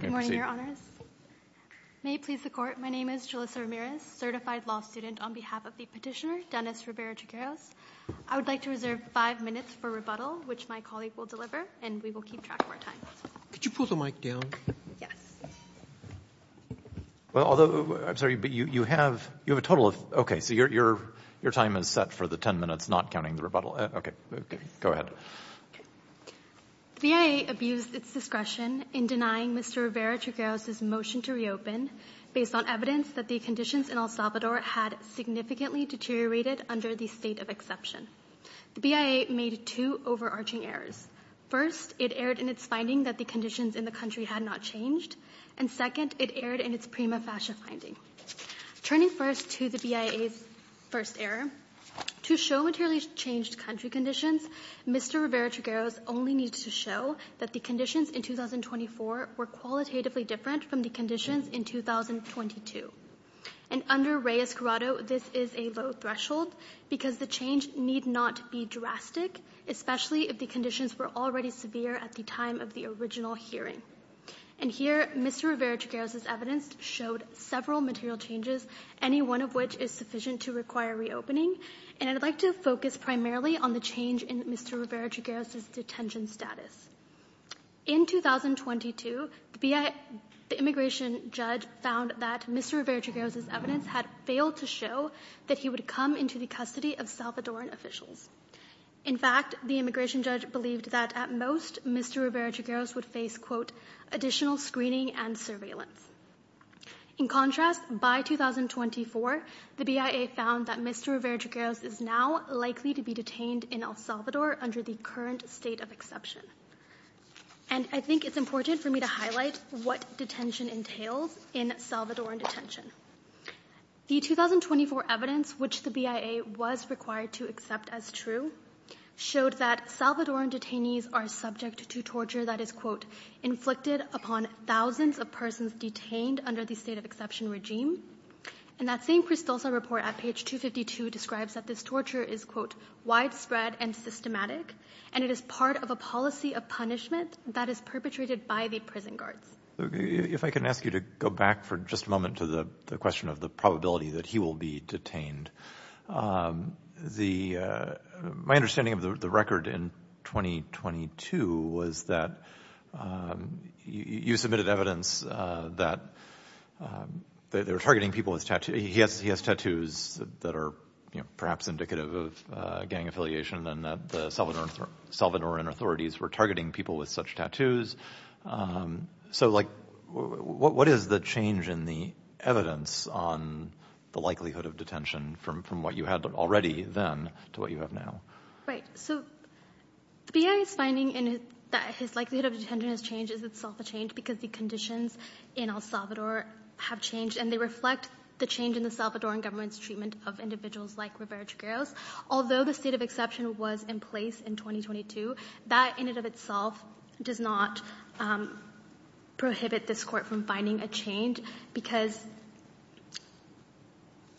Good morning, Your Honors. May it please the Court, my name is Julissa Ramirez, certified law student on behalf of the petitioner, Dennis Rivera-Trigueros. I would like to reserve five minutes for rebuttal, which my colleague will deliver, and we will keep track of our time. Could you pull the mic down? Yes. Well, although, I'm sorry, but you have a total of, okay, so your time is set for the ten minutes, not counting the rebuttal. Okay, go ahead. The BIA abused its discretion in denying Mr. Rivera-Trigueros' motion to reopen based on evidence that the conditions in El Salvador had significantly deteriorated under the state of exception. The BIA made two overarching errors. First, it erred in its finding that the conditions in the country had not changed, and second, it erred in its prima facie finding. Turning first to the BIA's first error, to show materially changed country conditions, Mr. Rivera-Trigueros only needs to show that the conditions in 2024 were qualitatively different from the conditions in 2022. And under Reyes-Guerrado, this is a low threshold because the change need not be drastic, especially if the conditions were already severe at the time of the original hearing. And here, Mr. Rivera-Trigueros' evidence showed several material changes, any one of which is sufficient to require reopening, and I'd like to focus primarily on the change in Mr. Rivera-Trigueros' detention status. In 2022, the immigration judge found that Mr. Rivera-Trigueros' evidence had failed to show that he would come into the custody of Salvadoran officials. In fact, the immigration judge believed that, at most, Mr. Rivera-Trigueros would face, quote, additional screening and surveillance. In contrast, by 2024, the BIA found that Mr. Rivera-Trigueros is now likely to be detained in El Salvador under the current state of exception. And I think it's important for me to highlight what detention entails in Salvadoran detention. The 2024 evidence, which the BIA was required to accept as true, showed that Salvadoran detainees are subject to torture that is, quote, inflicted upon thousands of persons detained under the state of exception regime. And that same Cristosa report at page 252 describes that this torture is, quote, widespread and systematic, and it is part of a policy of punishment that is perpetrated by the prison guards. If I can ask you to go back for just a moment to the question of the probability that he will be detained. My understanding of the record in 2022 was that you submitted evidence that they were targeting people with tattoos. Yes, he has tattoos that are perhaps indicative of gang affiliation and that the Salvadoran authorities were targeting people with such tattoos. So, like, what is the change in the evidence on the likelihood of detention from what you had already then to what you have now? Right. So the BIA's finding that his likelihood of detention has changed is itself a change because the conditions in El Salvador have changed. And they reflect the change in the Salvadoran government's treatment of individuals like Rivera-Trigueros. Although the state of exception was in place in 2022, that in and of itself does not prohibit this court from finding a change because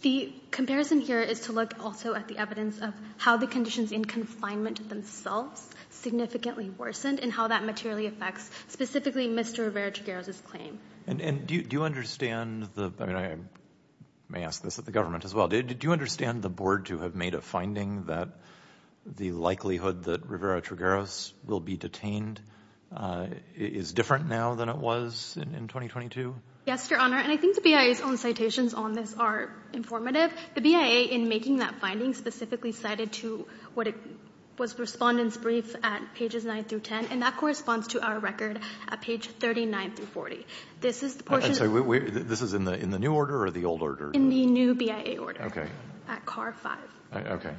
the comparison here is to look also at the evidence of how the conditions in confinement themselves significantly worsened and how that materially affects specifically Mr. Rivera-Trigueros' claim. And do you understand the—I mean, I may ask this of the government as well—do you understand the board to have made a finding that the likelihood that Rivera-Trigueros will be detained is different now than it was in 2022? Yes, Your Honor, and I think the BIA's own citations on this are informative. The BIA, in making that finding, specifically cited to what was Respondent's brief at pages 9 through 10, and that corresponds to our record at page 39 through 40. This is the portion— I'm sorry. This is in the new order or the old order? In the new BIA order. Okay. At C.A.R. 5. Okay.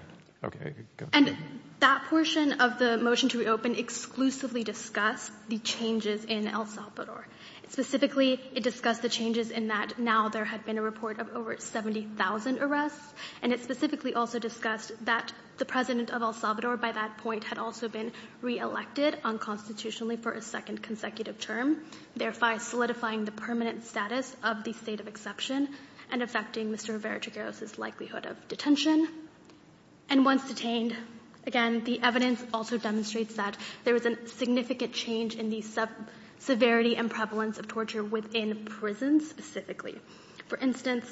Okay. And that portion of the motion to reopen exclusively discussed the changes in El Salvador. Specifically, it discussed the changes in that now there had been a report of over 70,000 arrests, and it specifically also discussed that the President of El Salvador by that point had also been reelected unconstitutionally for a second consecutive term, thereby solidifying the permanent status of the state of exception and affecting Mr. Rivera-Trigueros' likelihood of detention. And once detained, again, the evidence also demonstrates that there was a significant change in the severity and prevalence of torture within prisons specifically. For instance,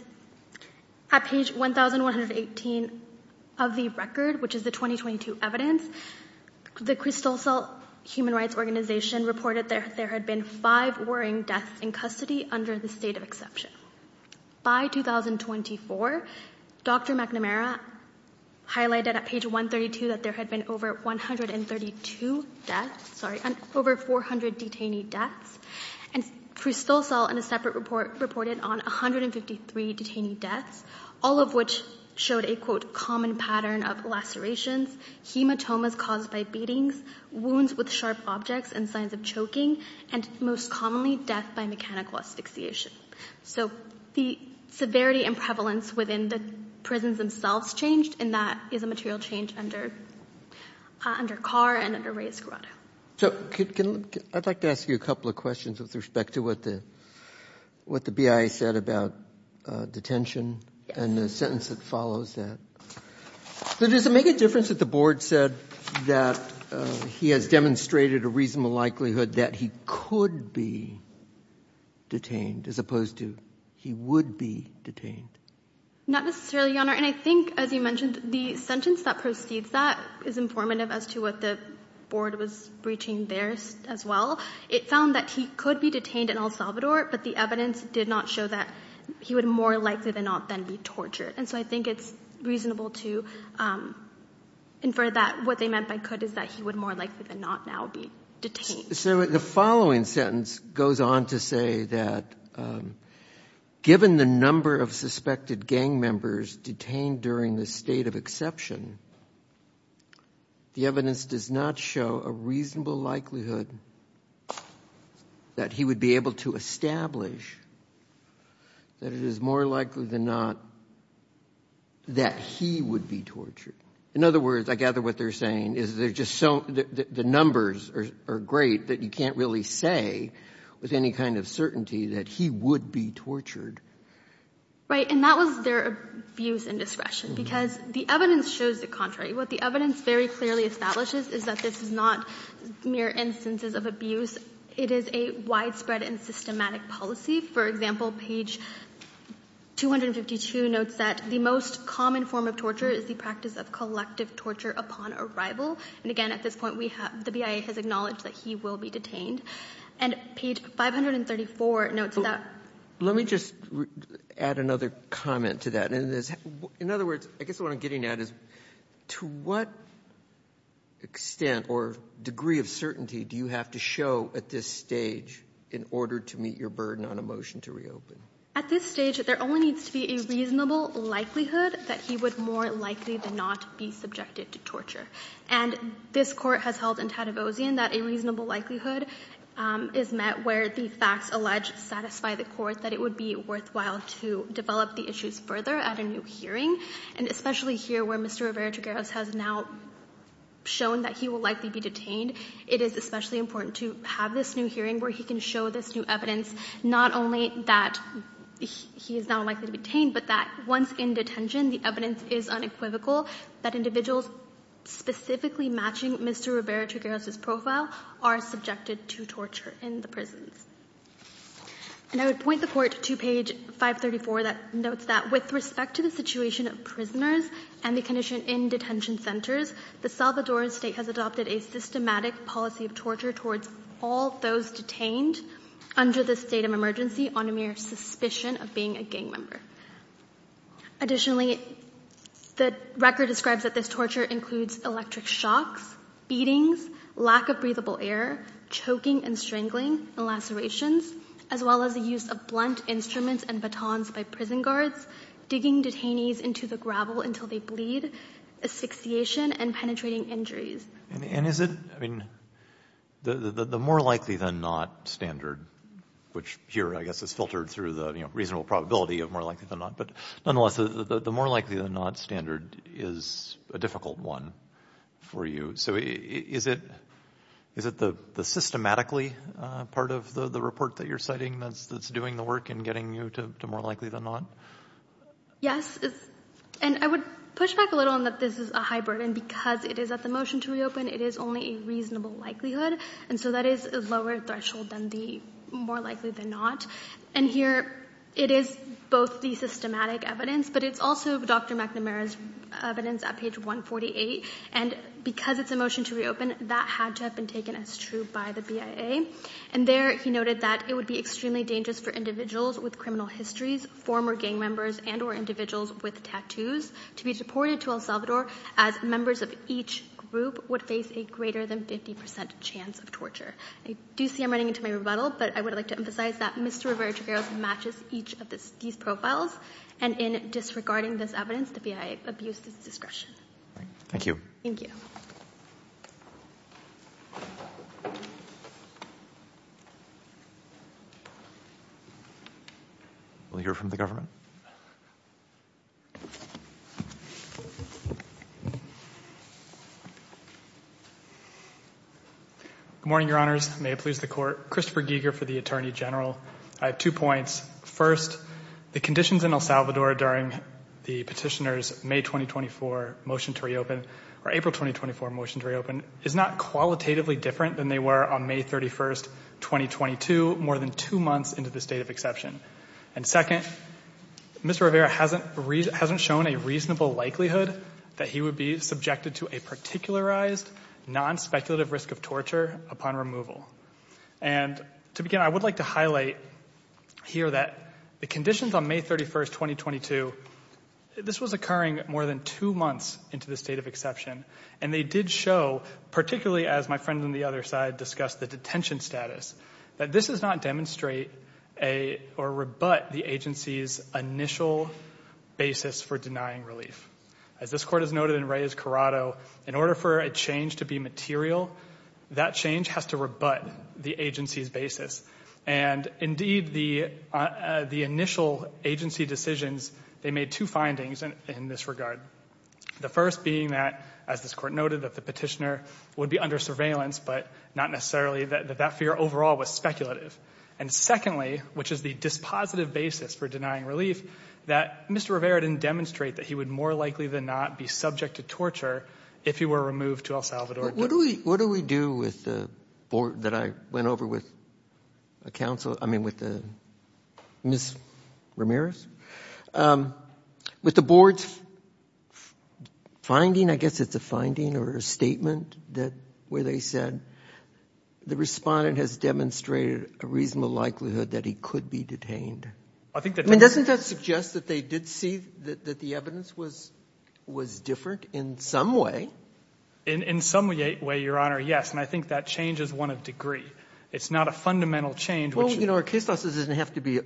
at page 1,118 of the record, which is the 2022 evidence, the Crystal Salt Human Rights Organization reported that there had been five warring deaths in custody under the state of exception. By 2024, Dr. McNamara highlighted at page 132 that there had been over 132 deaths, sorry, over 400 detainee deaths, and Crystal Salt in a separate report reported on 153 detainee deaths, all of which showed a, quote, common pattern of lacerations, hematomas caused by beatings, wounds with sharp objects and signs of choking, and most commonly death by mechanical asphyxiation. So the severity and prevalence within the prisons themselves changed, and that is a material change under Carr and under Reyes-Guarado. So I'd like to ask you a couple of questions with respect to what the BIA said about detention and the sentence that follows that. Does it make a difference that the board said that he has demonstrated a reasonable likelihood that he could be detained as opposed to he would be detained? Not necessarily, Your Honor. And I think, as you mentioned, the sentence that precedes that is informative as to what the board was reaching there as well. It found that he could be detained in El Salvador, but the evidence did not show that he would more likely than not then be tortured. And so I think it's reasonable to infer that what they meant by could is that he would more likely than not now be detained. So the following sentence goes on to say that given the number of suspected gang members detained during this state of exception, the evidence does not show a reasonable likelihood that he would be able to establish that it is more likely than not that he would be tortured. In other words, I gather what they're saying is they're just so — the numbers are great that you can't really say with any kind of certainty that he would be tortured. Right. And that was their abuse and discretion, because the evidence shows the contrary. What the evidence very clearly establishes is that this is not mere instances of abuse. It is a widespread and systematic policy. For example, page 252 notes that the most common form of torture is the practice of collective torture upon arrival. And again, at this point, the BIA has acknowledged that he will be detained. And page 534 notes that — Let me just add another comment to that. In other words, I guess what I'm getting at is to what extent or degree of certainty do you have to show at this stage in order to meet your burden on a motion to reopen? At this stage, there only needs to be a reasonable likelihood that he would more likely than not be subjected to torture. And this Court has held in Tadavosian that a reasonable likelihood is met where the facts alleged satisfy the Court that it would be worthwhile to develop the issues further at a new hearing. And especially here where Mr. Rivera-Trigueros has now shown that he will likely be detained, it is especially important to have this new hearing where he can show this new evidence not only that he is now likely to be detained, but that once in detention, the evidence is unequivocal that individuals specifically matching Mr. Rivera-Trigueros's profile are subjected to torture in the prisons. And I would point the Court to page 534 that notes that with respect to the situation of prisoners and the condition in detention centers, the Salvadoran State has adopted a systematic policy of torture towards all those detained under the state of emergency on a mere suspicion of being a gang member. Additionally, the record describes that this torture includes electric shocks, beatings, lack of breathable air, choking and strangling, and lacerations, as well as the use of blunt instruments and batons by prison guards, digging detainees into the gravel until they bleed, asphyxiation, and penetrating injuries. And is it, I mean, the more likely than not standard, which here I guess is filtered through the reasonable probability of more likely than not, but nonetheless, the more likely than not standard is a difficult one for you. So is it the systematically part of the report that you're citing that's doing the work in getting you to more likely than not? Yes. And I would push back a little on that this is a high burden. Because it is at the motion to reopen, it is only a reasonable likelihood. And so that is a lower threshold than the more likely than not. And here it is both the systematic evidence, but it's also Dr. McNamara's evidence at page 148. And because it's a motion to reopen, that had to have been taken as true by the BIA. And there he noted that it would be extremely dangerous for individuals with criminal histories, former gang members, and or individuals with tattoos to be deported to El Salvador as members of each group would face a greater than 50% chance of torture. I do see I'm running into my rebuttal, but I would like to emphasize that Mr. Rivera-Trigueros matches each of these profiles. And in disregarding this evidence, the BIA abused its discretion. Thank you. Thank you. We'll hear from the government. Good morning, Your Honors. May it please the Court. Christopher Giger for the Attorney General. I have two points. First, the conditions in El Salvador during the petitioner's May 2024 motion to reopen, or April 2024 motion to reopen, is not qualitatively different than they were on May 31st. 2022, more than two months into the state of exception. And second, Mr. Rivera hasn't shown a reasonable likelihood that he would be subjected to a particularized, non-speculative risk of torture upon removal. And to begin, I would like to highlight here that the conditions on May 31st, 2022, this was occurring more than two months into the state of exception. And they did show, particularly as my friend on the other side discussed the detention status, that this does not demonstrate or rebut the agency's initial basis for denying relief. As this Court has noted in Reyes-Corrado, in order for a change to be material, that change has to rebut the agency's basis. And indeed, the initial agency decisions, they made two findings in this regard. The first being that, as this Court noted, that the petitioner would be under surveillance, but not necessarily, that that fear overall was speculative. And secondly, which is the dispositive basis for denying relief, that Mr. Rivera didn't demonstrate that he would more likely than not be subject to torture if he were removed to El Salvador. What do we do with the board that I went over with a counsel, I mean with Ms. Ramirez? With the board's finding, I guess it's a finding or a statement where they said the Respondent has demonstrated a reasonable likelihood that he could be detained. I mean, doesn't that suggest that they did see that the evidence was different in some way? In some way, Your Honor, yes. And I think that change is one of degree. It's not a fundamental change. Well, you know, our case doesn't have to be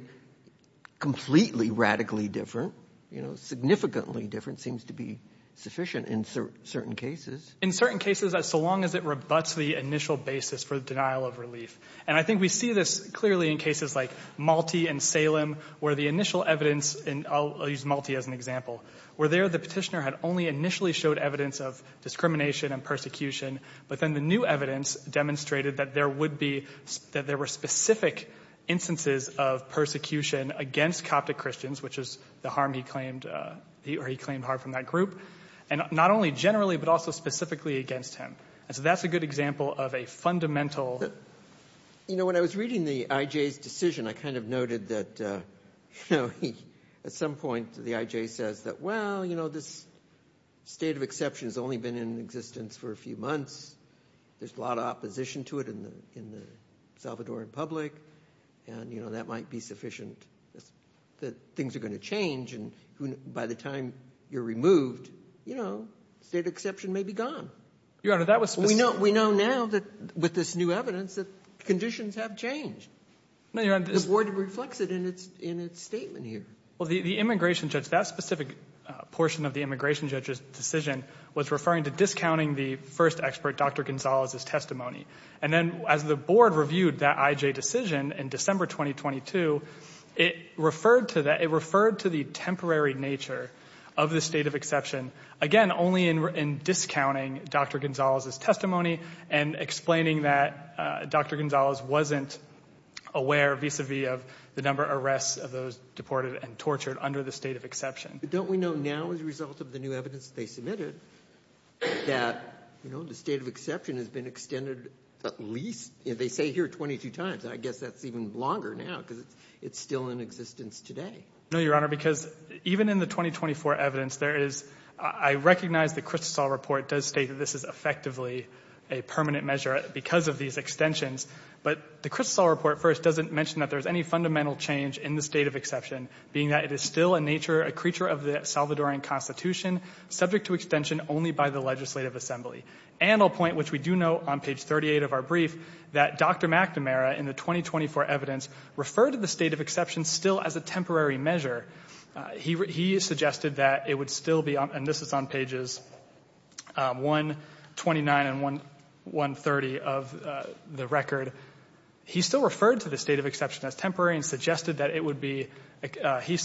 completely radically different. You know, significantly different seems to be sufficient in certain cases. In certain cases, so long as it rebuts the initial basis for the denial of relief. And I think we see this clearly in cases like Malti and Salem where the initial evidence, and I'll use Malti as an example, where there the petitioner had only initially showed evidence of discrimination and persecution, but then the new evidence demonstrated that there would be, that there were specific instances of persecution against Coptic Christians, which is the harm he claimed, or he claimed harm from that group. And not only generally, but also specifically against him. And so that's a good example of a fundamental. You know, when I was reading the IJ's decision, I kind of noted that, you know, at some point the IJ says that, well, you know, this state of exception has only been in existence for a few months. There's a lot of opposition to it in the Salvadoran public. And, you know, that might be sufficient that things are going to change. And by the time you're removed, you know, state of exception may be gone. Your Honor, that was specific. We know now that with this new evidence that conditions have changed. The board reflects it in its statement here. Well, the immigration judge, that specific portion of the immigration judge's decision, was referring to discounting the first expert, Dr. Gonzalez's testimony. And then as the board reviewed that IJ decision in December 2022, it referred to the temporary nature of the state of exception, again, only in discounting Dr. Gonzalez's testimony and explaining that Dr. Gonzalez wasn't aware, vis-a-vis of the number of arrests of those deported and tortured under the state of exception. Don't we know now as a result of the new evidence they submitted that, you know, the state of exception has been extended at least, they say here, 22 times. I guess that's even longer now because it's still in existence today. No, Your Honor, because even in the 2024 evidence, there is, I recognize the Kristosal report does state that this is effectively a permanent measure because of these extensions. But the Kristosal report first doesn't mention that there's any fundamental change in the state of exception, being that it is still a nature, a creature of the Salvadoran Constitution, subject to extension only by the legislative assembly. And I'll point, which we do note on page 38 of our brief, that Dr. McNamara in the 2024 evidence referred to the state of exception still as a temporary measure. He suggested that it would still be, and this is on pages 129 and 130 of the record, he still referred to the state of exception as temporary and suggested that it would be, he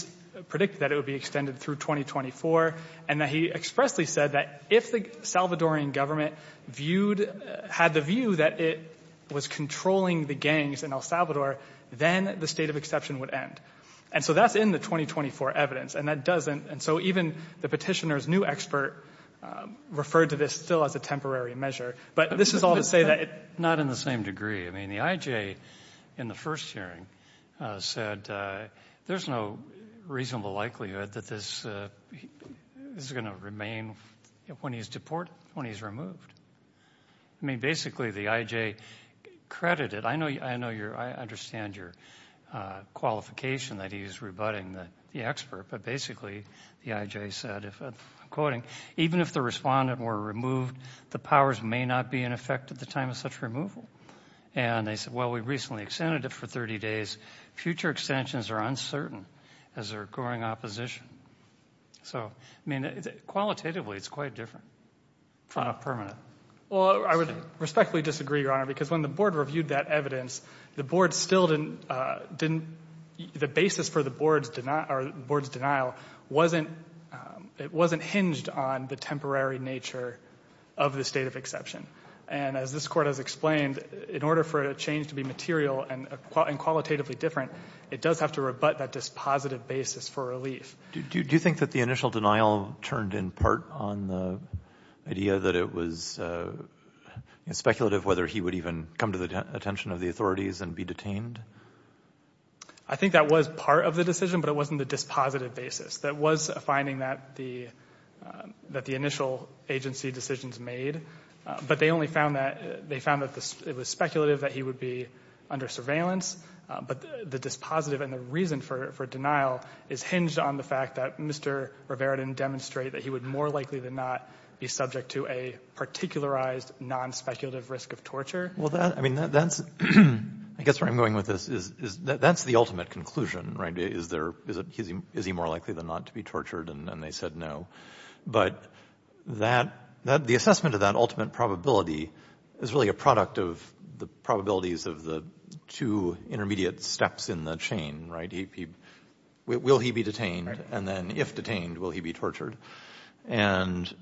predicted that it would be extended through 2024, and that he expressly said that if the Salvadoran government had the view that it was controlling the gangs in El Salvador, then the state of exception would end. And so that's in the 2024 evidence, and that doesn't, and so even the petitioner's new expert referred to this still as a temporary measure. But this is all to say that it. Not in the same degree. I mean, the IJ in the first hearing said there's no reasonable likelihood that this is going to remain when he's deported, when he's removed. I mean, basically the IJ credited, I know your, I understand your qualification that he's rebutting the expert, but basically the IJ said, I'm quoting, even if the respondent were removed, the powers may not be in effect at the time of such removal. And they said, well, we recently extended it for 30 days. Future extensions are uncertain as they're growing opposition. So, I mean, qualitatively it's quite different from a permanent. Well, I would respectfully disagree, Your Honor, because when the board reviewed that evidence, the board still didn't, the basis for the board's denial wasn't, it wasn't hinged on the temporary nature of the state of exception. And as this Court has explained, in order for a change to be material and qualitatively different, it does have to rebut that dispositive basis for relief. Do you think that the initial denial turned in part on the idea that it was speculative whether he would even come to the attention of the authorities and be detained? I think that was part of the decision, but it wasn't the dispositive basis. That was a finding that the initial agency decisions made, but they only found that, they found that it was speculative that he would be under surveillance. But the dispositive and the reason for denial is hinged on the fact that Mr. Rivera didn't demonstrate that he would more likely than not be subject to a particularized, non-speculative risk of torture. Well, that, I mean, that's, I guess where I'm going with this is that's the ultimate conclusion, right? Is there, is he more likely than not to be tortured? And they said no. But that, the assessment of that ultimate probability is really a product of the probabilities of the two intermediate steps in the chain, right? Will he be detained? And then if detained, will he be tortured? And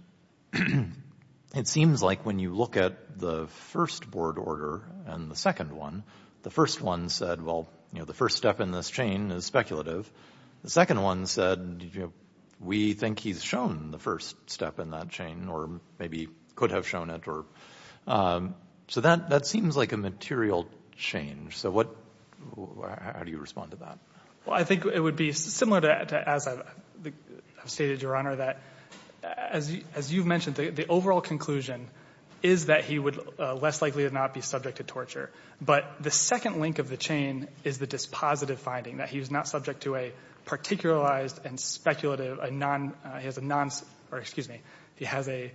it seems like when you look at the first board order and the second one, the first one said, well, you know, the first step in this chain is speculative. The second one said, you know, we think he's shown the first step in that chain or maybe could have shown it or, so that seems like a material change. So what, how do you respond to that? Well, I think it would be similar to as I've stated, Your Honor, that as you've mentioned, the overall conclusion is that he would less likely than not be subject to torture. But the second link of the chain is the dispositive finding, that he's not subject to a particularized and speculative, a non, he has a non, or excuse me, he has a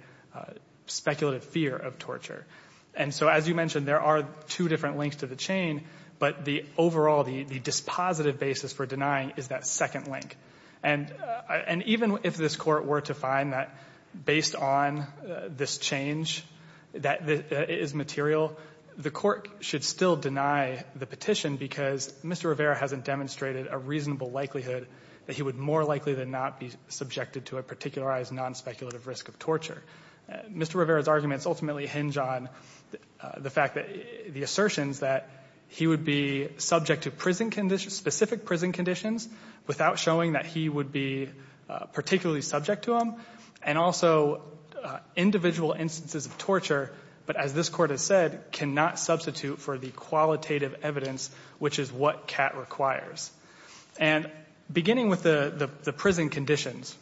speculative fear of torture. And so as you mentioned, there are two different links to the chain, but the overall, the dispositive basis for denying is that second link. And even if this Court were to find that based on this change that is material, the Court should still deny the petition because Mr. Rivera hasn't demonstrated a reasonable likelihood that he would more likely than not be subjected to a particularized, non-speculative risk of torture. Mr. Rivera's arguments ultimately hinge on the fact that the assertions that he would be subject to prison conditions, specific prison conditions, without showing that he would be particularly subject to them, and also individual instances of torture, but as this Court has said, cannot substitute for the qualitative evidence, which is what Catt requires. And beginning with the prison conditions,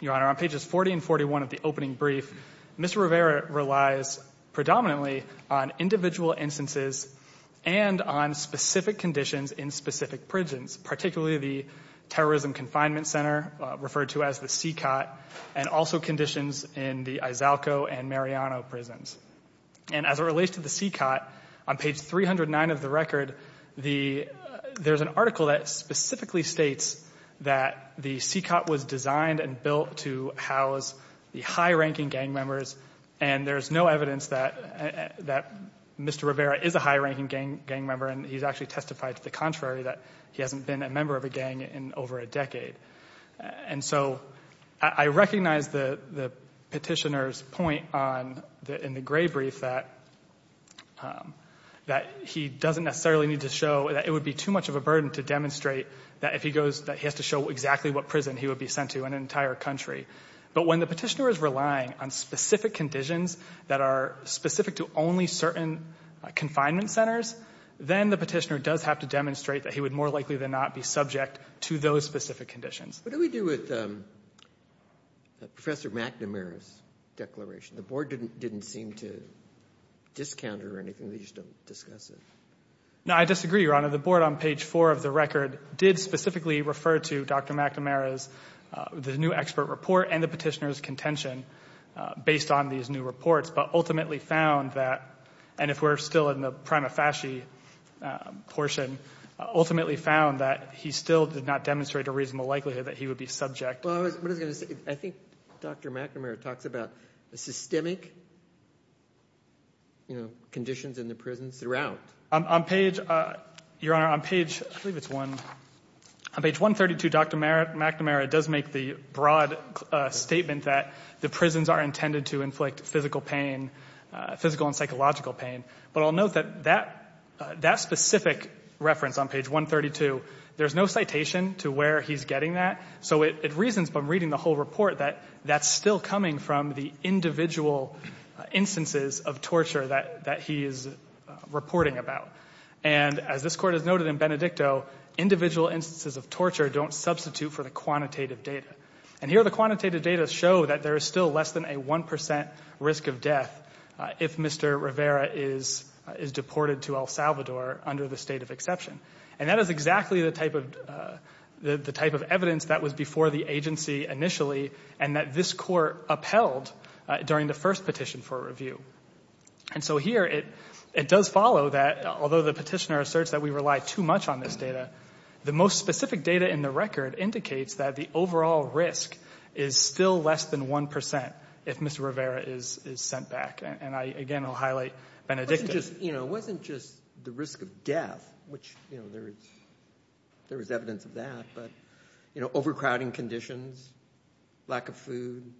Your Honor, on pages 40 and 41 of the opening brief, Mr. Rivera relies predominantly on individual instances and on specific conditions in specific prisons, particularly the Terrorism Confinement Center, referred to as the CICOT, and also conditions in the Izalco and Mariano prisons. And as it relates to the CICOT, on page 309 of the record, there's an article that specifically states that the CICOT was designed and built to house the high-ranking gang members, and there's no evidence that Mr. Rivera is a high-ranking gang member, and he's actually testified to the contrary, that he hasn't been a member of a gang in over a decade. And so I recognize the petitioner's point in the gray brief that he doesn't necessarily need to show that it would be too much of a burden to demonstrate that he has to show exactly what prison he would be sent to in an entire country. But when the petitioner is relying on specific conditions that are specific to only certain confinement centers, then the petitioner does have to demonstrate that he would more likely than not be subject to those specific conditions. What do we do with Professor McNamara's declaration? The Board didn't seem to discount it or anything. They just don't discuss it. No, I disagree, Your Honor. The Board on page 4 of the record did specifically refer to Dr. McNamara's new expert report and the petitioner's contention based on these new reports, but ultimately found that, and if we're still in the prima facie portion, ultimately found that he still did not demonstrate a reasonable likelihood that he would be subject. I think Dr. McNamara talks about the systemic conditions in the prisons throughout. On page 132, Dr. McNamara does make the broad statement that the prisons are intended to inflict physical pain, physical and psychological pain. But I'll note that that specific reference on page 132, there's no citation to where he's getting that, so it reasons from reading the whole report that that's still coming from the individual instances of torture that he is reporting about. And as this Court has noted in Benedicto, individual instances of torture don't substitute for the quantitative data. And here the quantitative data show that there is still less than a 1 percent risk of death if Mr. Rivera is deported to El Salvador under the state of exception. And that is exactly the type of evidence that was before the agency initially and that this Court upheld during the first petition for review. And so here it does follow that although the petitioner asserts that we rely too much on this data, the most specific data in the record indicates that the overall risk is still less than 1 percent if Mr. Rivera is sent back. And again, I'll highlight Benedicto. It wasn't just the risk of death, which there is evidence of that, but overcrowding conditions, lack of food,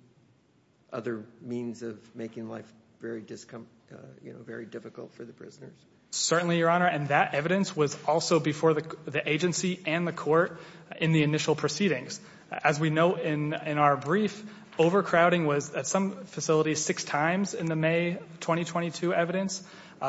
other means of making life very difficult for the prisoners. Certainly, Your Honor. And that evidence was also before the agency and the Court in the initial proceedings. As we note in our brief, overcrowding was at some facilities six times in the May 2022 evidence.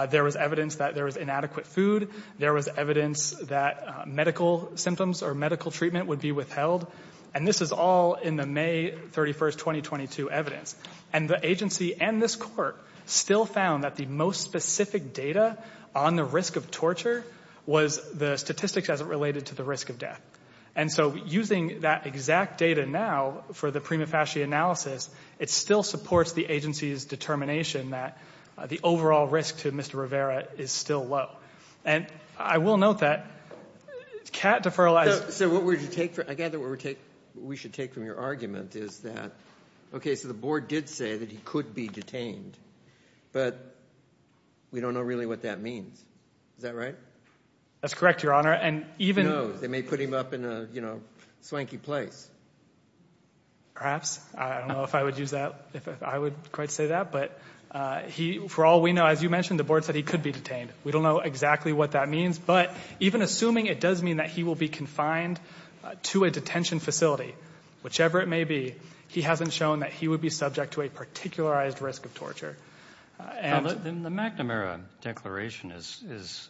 There was evidence that there was inadequate food. There was evidence that medical symptoms or medical treatment would be withheld. And this is all in the May 31, 2022 evidence. And the agency and this Court still found that the most specific data on the risk of torture was the statistics as it related to the risk of death. And so using that exact data now for the prima facie analysis, it still supports the agency's determination that the overall risk to Mr. Rivera is still low. And I will note that Catt deferralized... So what we should take from your argument is that, okay, so the Board did say that he could be detained, but we don't know really what that means. Is that right? That's correct, Your Honor. And even... No, they may put him up in a swanky place. Perhaps. I don't know if I would use that, if I would quite say that. But for all we know, as you mentioned, the Board said he could be detained. We don't know exactly what that means. But even assuming it does mean that he will be confined to a detention facility, whichever it may be, he hasn't shown that he would be subject to a particularized risk of torture. The McNamara Declaration is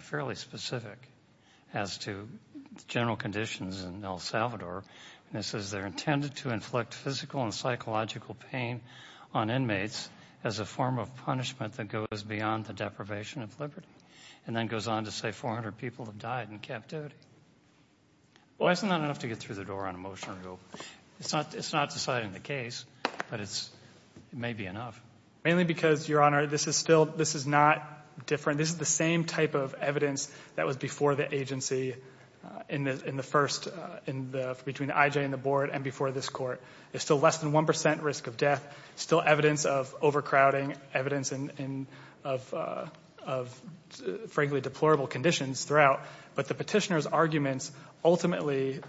fairly specific as to general conditions in El Salvador. It says they're intended to inflict physical and psychological pain on inmates as a form of punishment that goes beyond the deprivation of liberty, and then goes on to say 400 people have died in captivity. Well, isn't that enough to get through the door on a motion? It's not deciding the case, but it may be enough. Mainly because, Your Honor, this is not different. This is the same type of evidence that was before the agency in the first, between IJ and the Board and before this Court. There's still less than 1% risk of death, still evidence of overcrowding, evidence of, frankly, deplorable conditions throughout. But the petitioner's arguments ultimately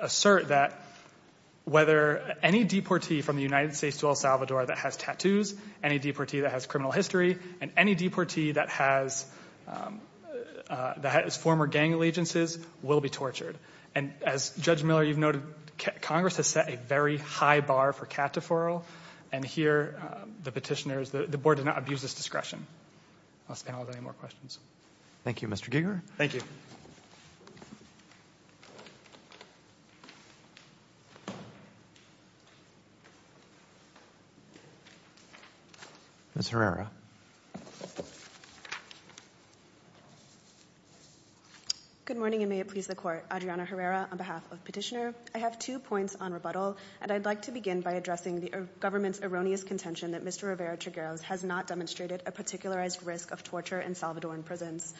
assert that whether any deportee from the United States to El Salvador that has tattoos, any deportee that has criminal history, and any deportee that has former gang allegiances will be tortured. And as Judge Miller, you've noted, Congress has set a very high bar for cat deferral, and here the petitioner is, the Board did not abuse this discretion. Unless the panel has any more questions. Thank you, Mr. Giger. Thank you. Ms. Herrera. Good morning, and may it please the Court. Adriana Herrera on behalf of the petitioner. I have two points on rebuttal, and I'd like to begin by addressing the government's erroneous contention that Mr. Rivera-Trigueros has not demonstrated a particularized risk of torture in Salvadoran prisons.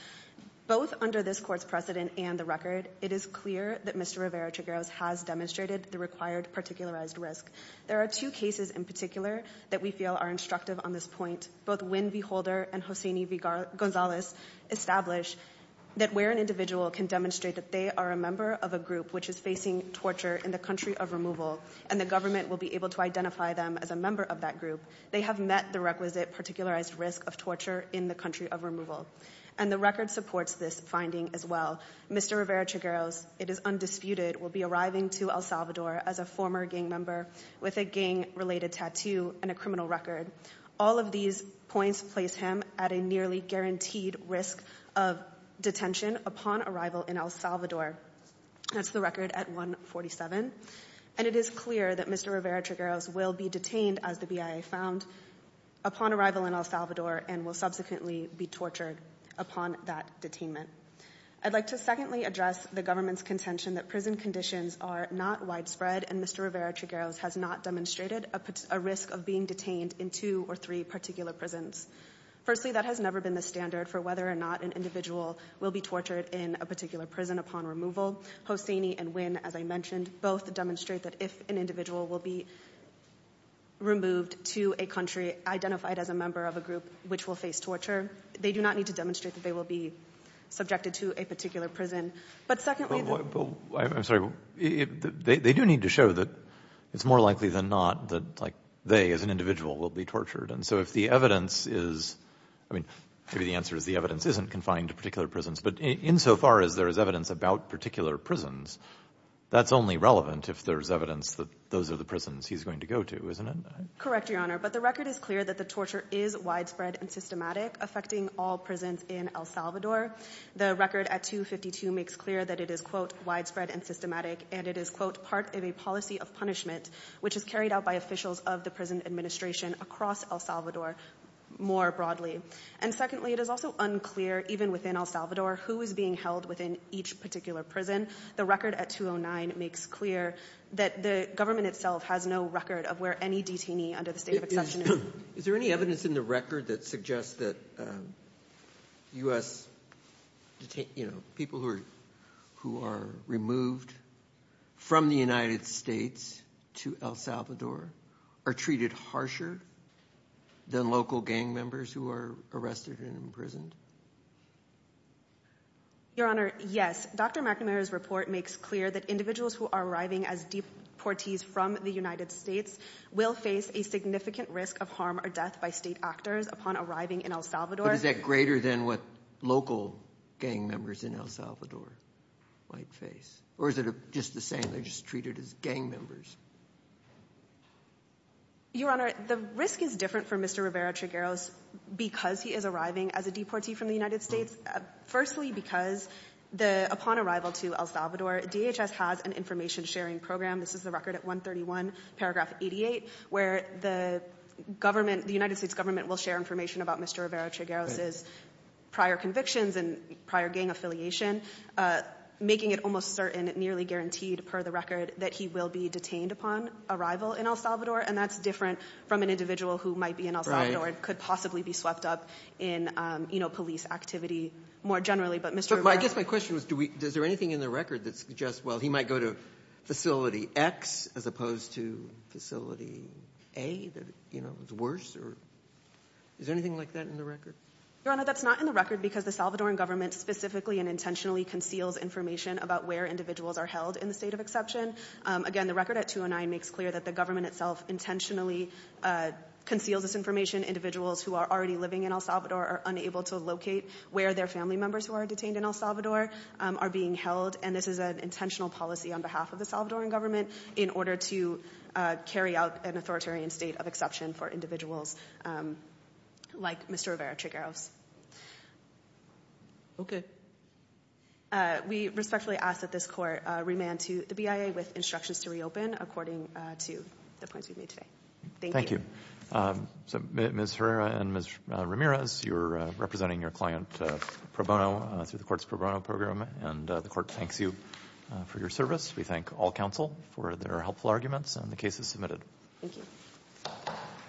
Both under this Court's precedent and the record, it is clear that Mr. Rivera-Trigueros has demonstrated the required particularized risk. There are two cases in particular that we feel are instructive on this point, both when V. Holder and Hosseini V. Gonzalez establish that where an individual can demonstrate that they are a member of a group which is facing torture in the country of removal, and the government will be able to identify them as a member of that group, they have met the requisite particularized risk of torture in the country of removal. And the record supports this finding as well. Mr. Rivera-Trigueros, it is undisputed, will be arriving to El Salvador as a former gang member with a gang-related tattoo and a criminal record. All of these points place him at a nearly guaranteed risk of detention upon arrival in El Salvador. That's the record at 147. And it is clear that Mr. Rivera-Trigueros will be detained, as the BIA found, upon arrival in El Salvador and will subsequently be tortured upon that detainment. I'd like to secondly address the government's contention that prison conditions are not widespread and Mr. Rivera-Trigueros has not demonstrated a risk of being detained in two or three particular prisons. Firstly, that has never been the standard for whether or not an individual will be tortured in a particular prison upon removal. Hosseini and V, as I mentioned, both demonstrate that if an individual will be removed to a country identified as a member of a group which will face torture, they do not need to demonstrate that they will be subjected to a particular prison. I'm sorry, they do need to show that it's more likely than not that they, as an individual, will be tortured. And so if the evidence is, I mean, maybe the answer is the evidence isn't confined to particular prisons, but insofar as there is evidence about particular prisons, that's only relevant if there's evidence that those are the prisons he's going to go to, isn't it? Correct, Your Honor. But the record is clear that the torture is widespread and systematic, affecting all prisons in El Salvador. The record at 252 makes clear that it is, quote, widespread and systematic, and it is, quote, part of a policy of punishment, which is carried out by officials of the prison administration across El Salvador more broadly. And secondly, it is also unclear, even within El Salvador, who is being held within each particular prison. The record at 209 makes clear that the government itself has no record of where any detainee under the state of accession is. Is there any evidence in the record that suggests that U.S. detainees, you know, people who are removed from the United States to El Salvador, are treated harsher than local gang members who are arrested and imprisoned? Your Honor, yes. Dr. McNamara's report makes clear that individuals who are arriving as deportees from the United States will face a significant risk of harm or death by state actors upon arriving in El Salvador. But is that greater than what local gang members in El Salvador might face? Or is it just the same, they're just treated as gang members? Your Honor, the risk is different for Mr. Rivera-Trigueros because he is arriving as a deportee from the United States. Firstly, because upon arrival to El Salvador, DHS has an information-sharing program. This is the record at 131 paragraph 88 where the government, the United States government, will share information about Mr. Rivera-Trigueros' prior convictions and prior gang affiliation, making it almost certain, nearly guaranteed per the record, that he will be detained upon arrival in El Salvador. And that's different from an individual who might be in El Salvador and could possibly be swept up in, you know, police activity more generally. But Mr. Rivera- I guess my question was, does there anything in the record that suggests, well, he might go to Facility X as opposed to Facility A that, you know, is worse? Is there anything like that in the record? Your Honor, that's not in the record because the Salvadoran government specifically and intentionally conceals information about where individuals are held in the state of exception. Again, the record at 209 makes clear that the government itself intentionally conceals this information. Individuals who are already living in El Salvador are unable to locate where their family members who are detained in El Salvador are being held. And this is an intentional policy on behalf of the Salvadoran government in order to carry out an authoritarian state of exception for individuals like Mr. Rivera-Trigueros. Okay. We respectfully ask that this court remand to the BIA with instructions to reopen according to the points we've made today. Thank you. So Ms. Herrera and Ms. Ramirez, you're representing your client pro bono through the court's pro bono program. And the court thanks you for your service. We thank all counsel for their helpful arguments and the cases submitted. Thank you.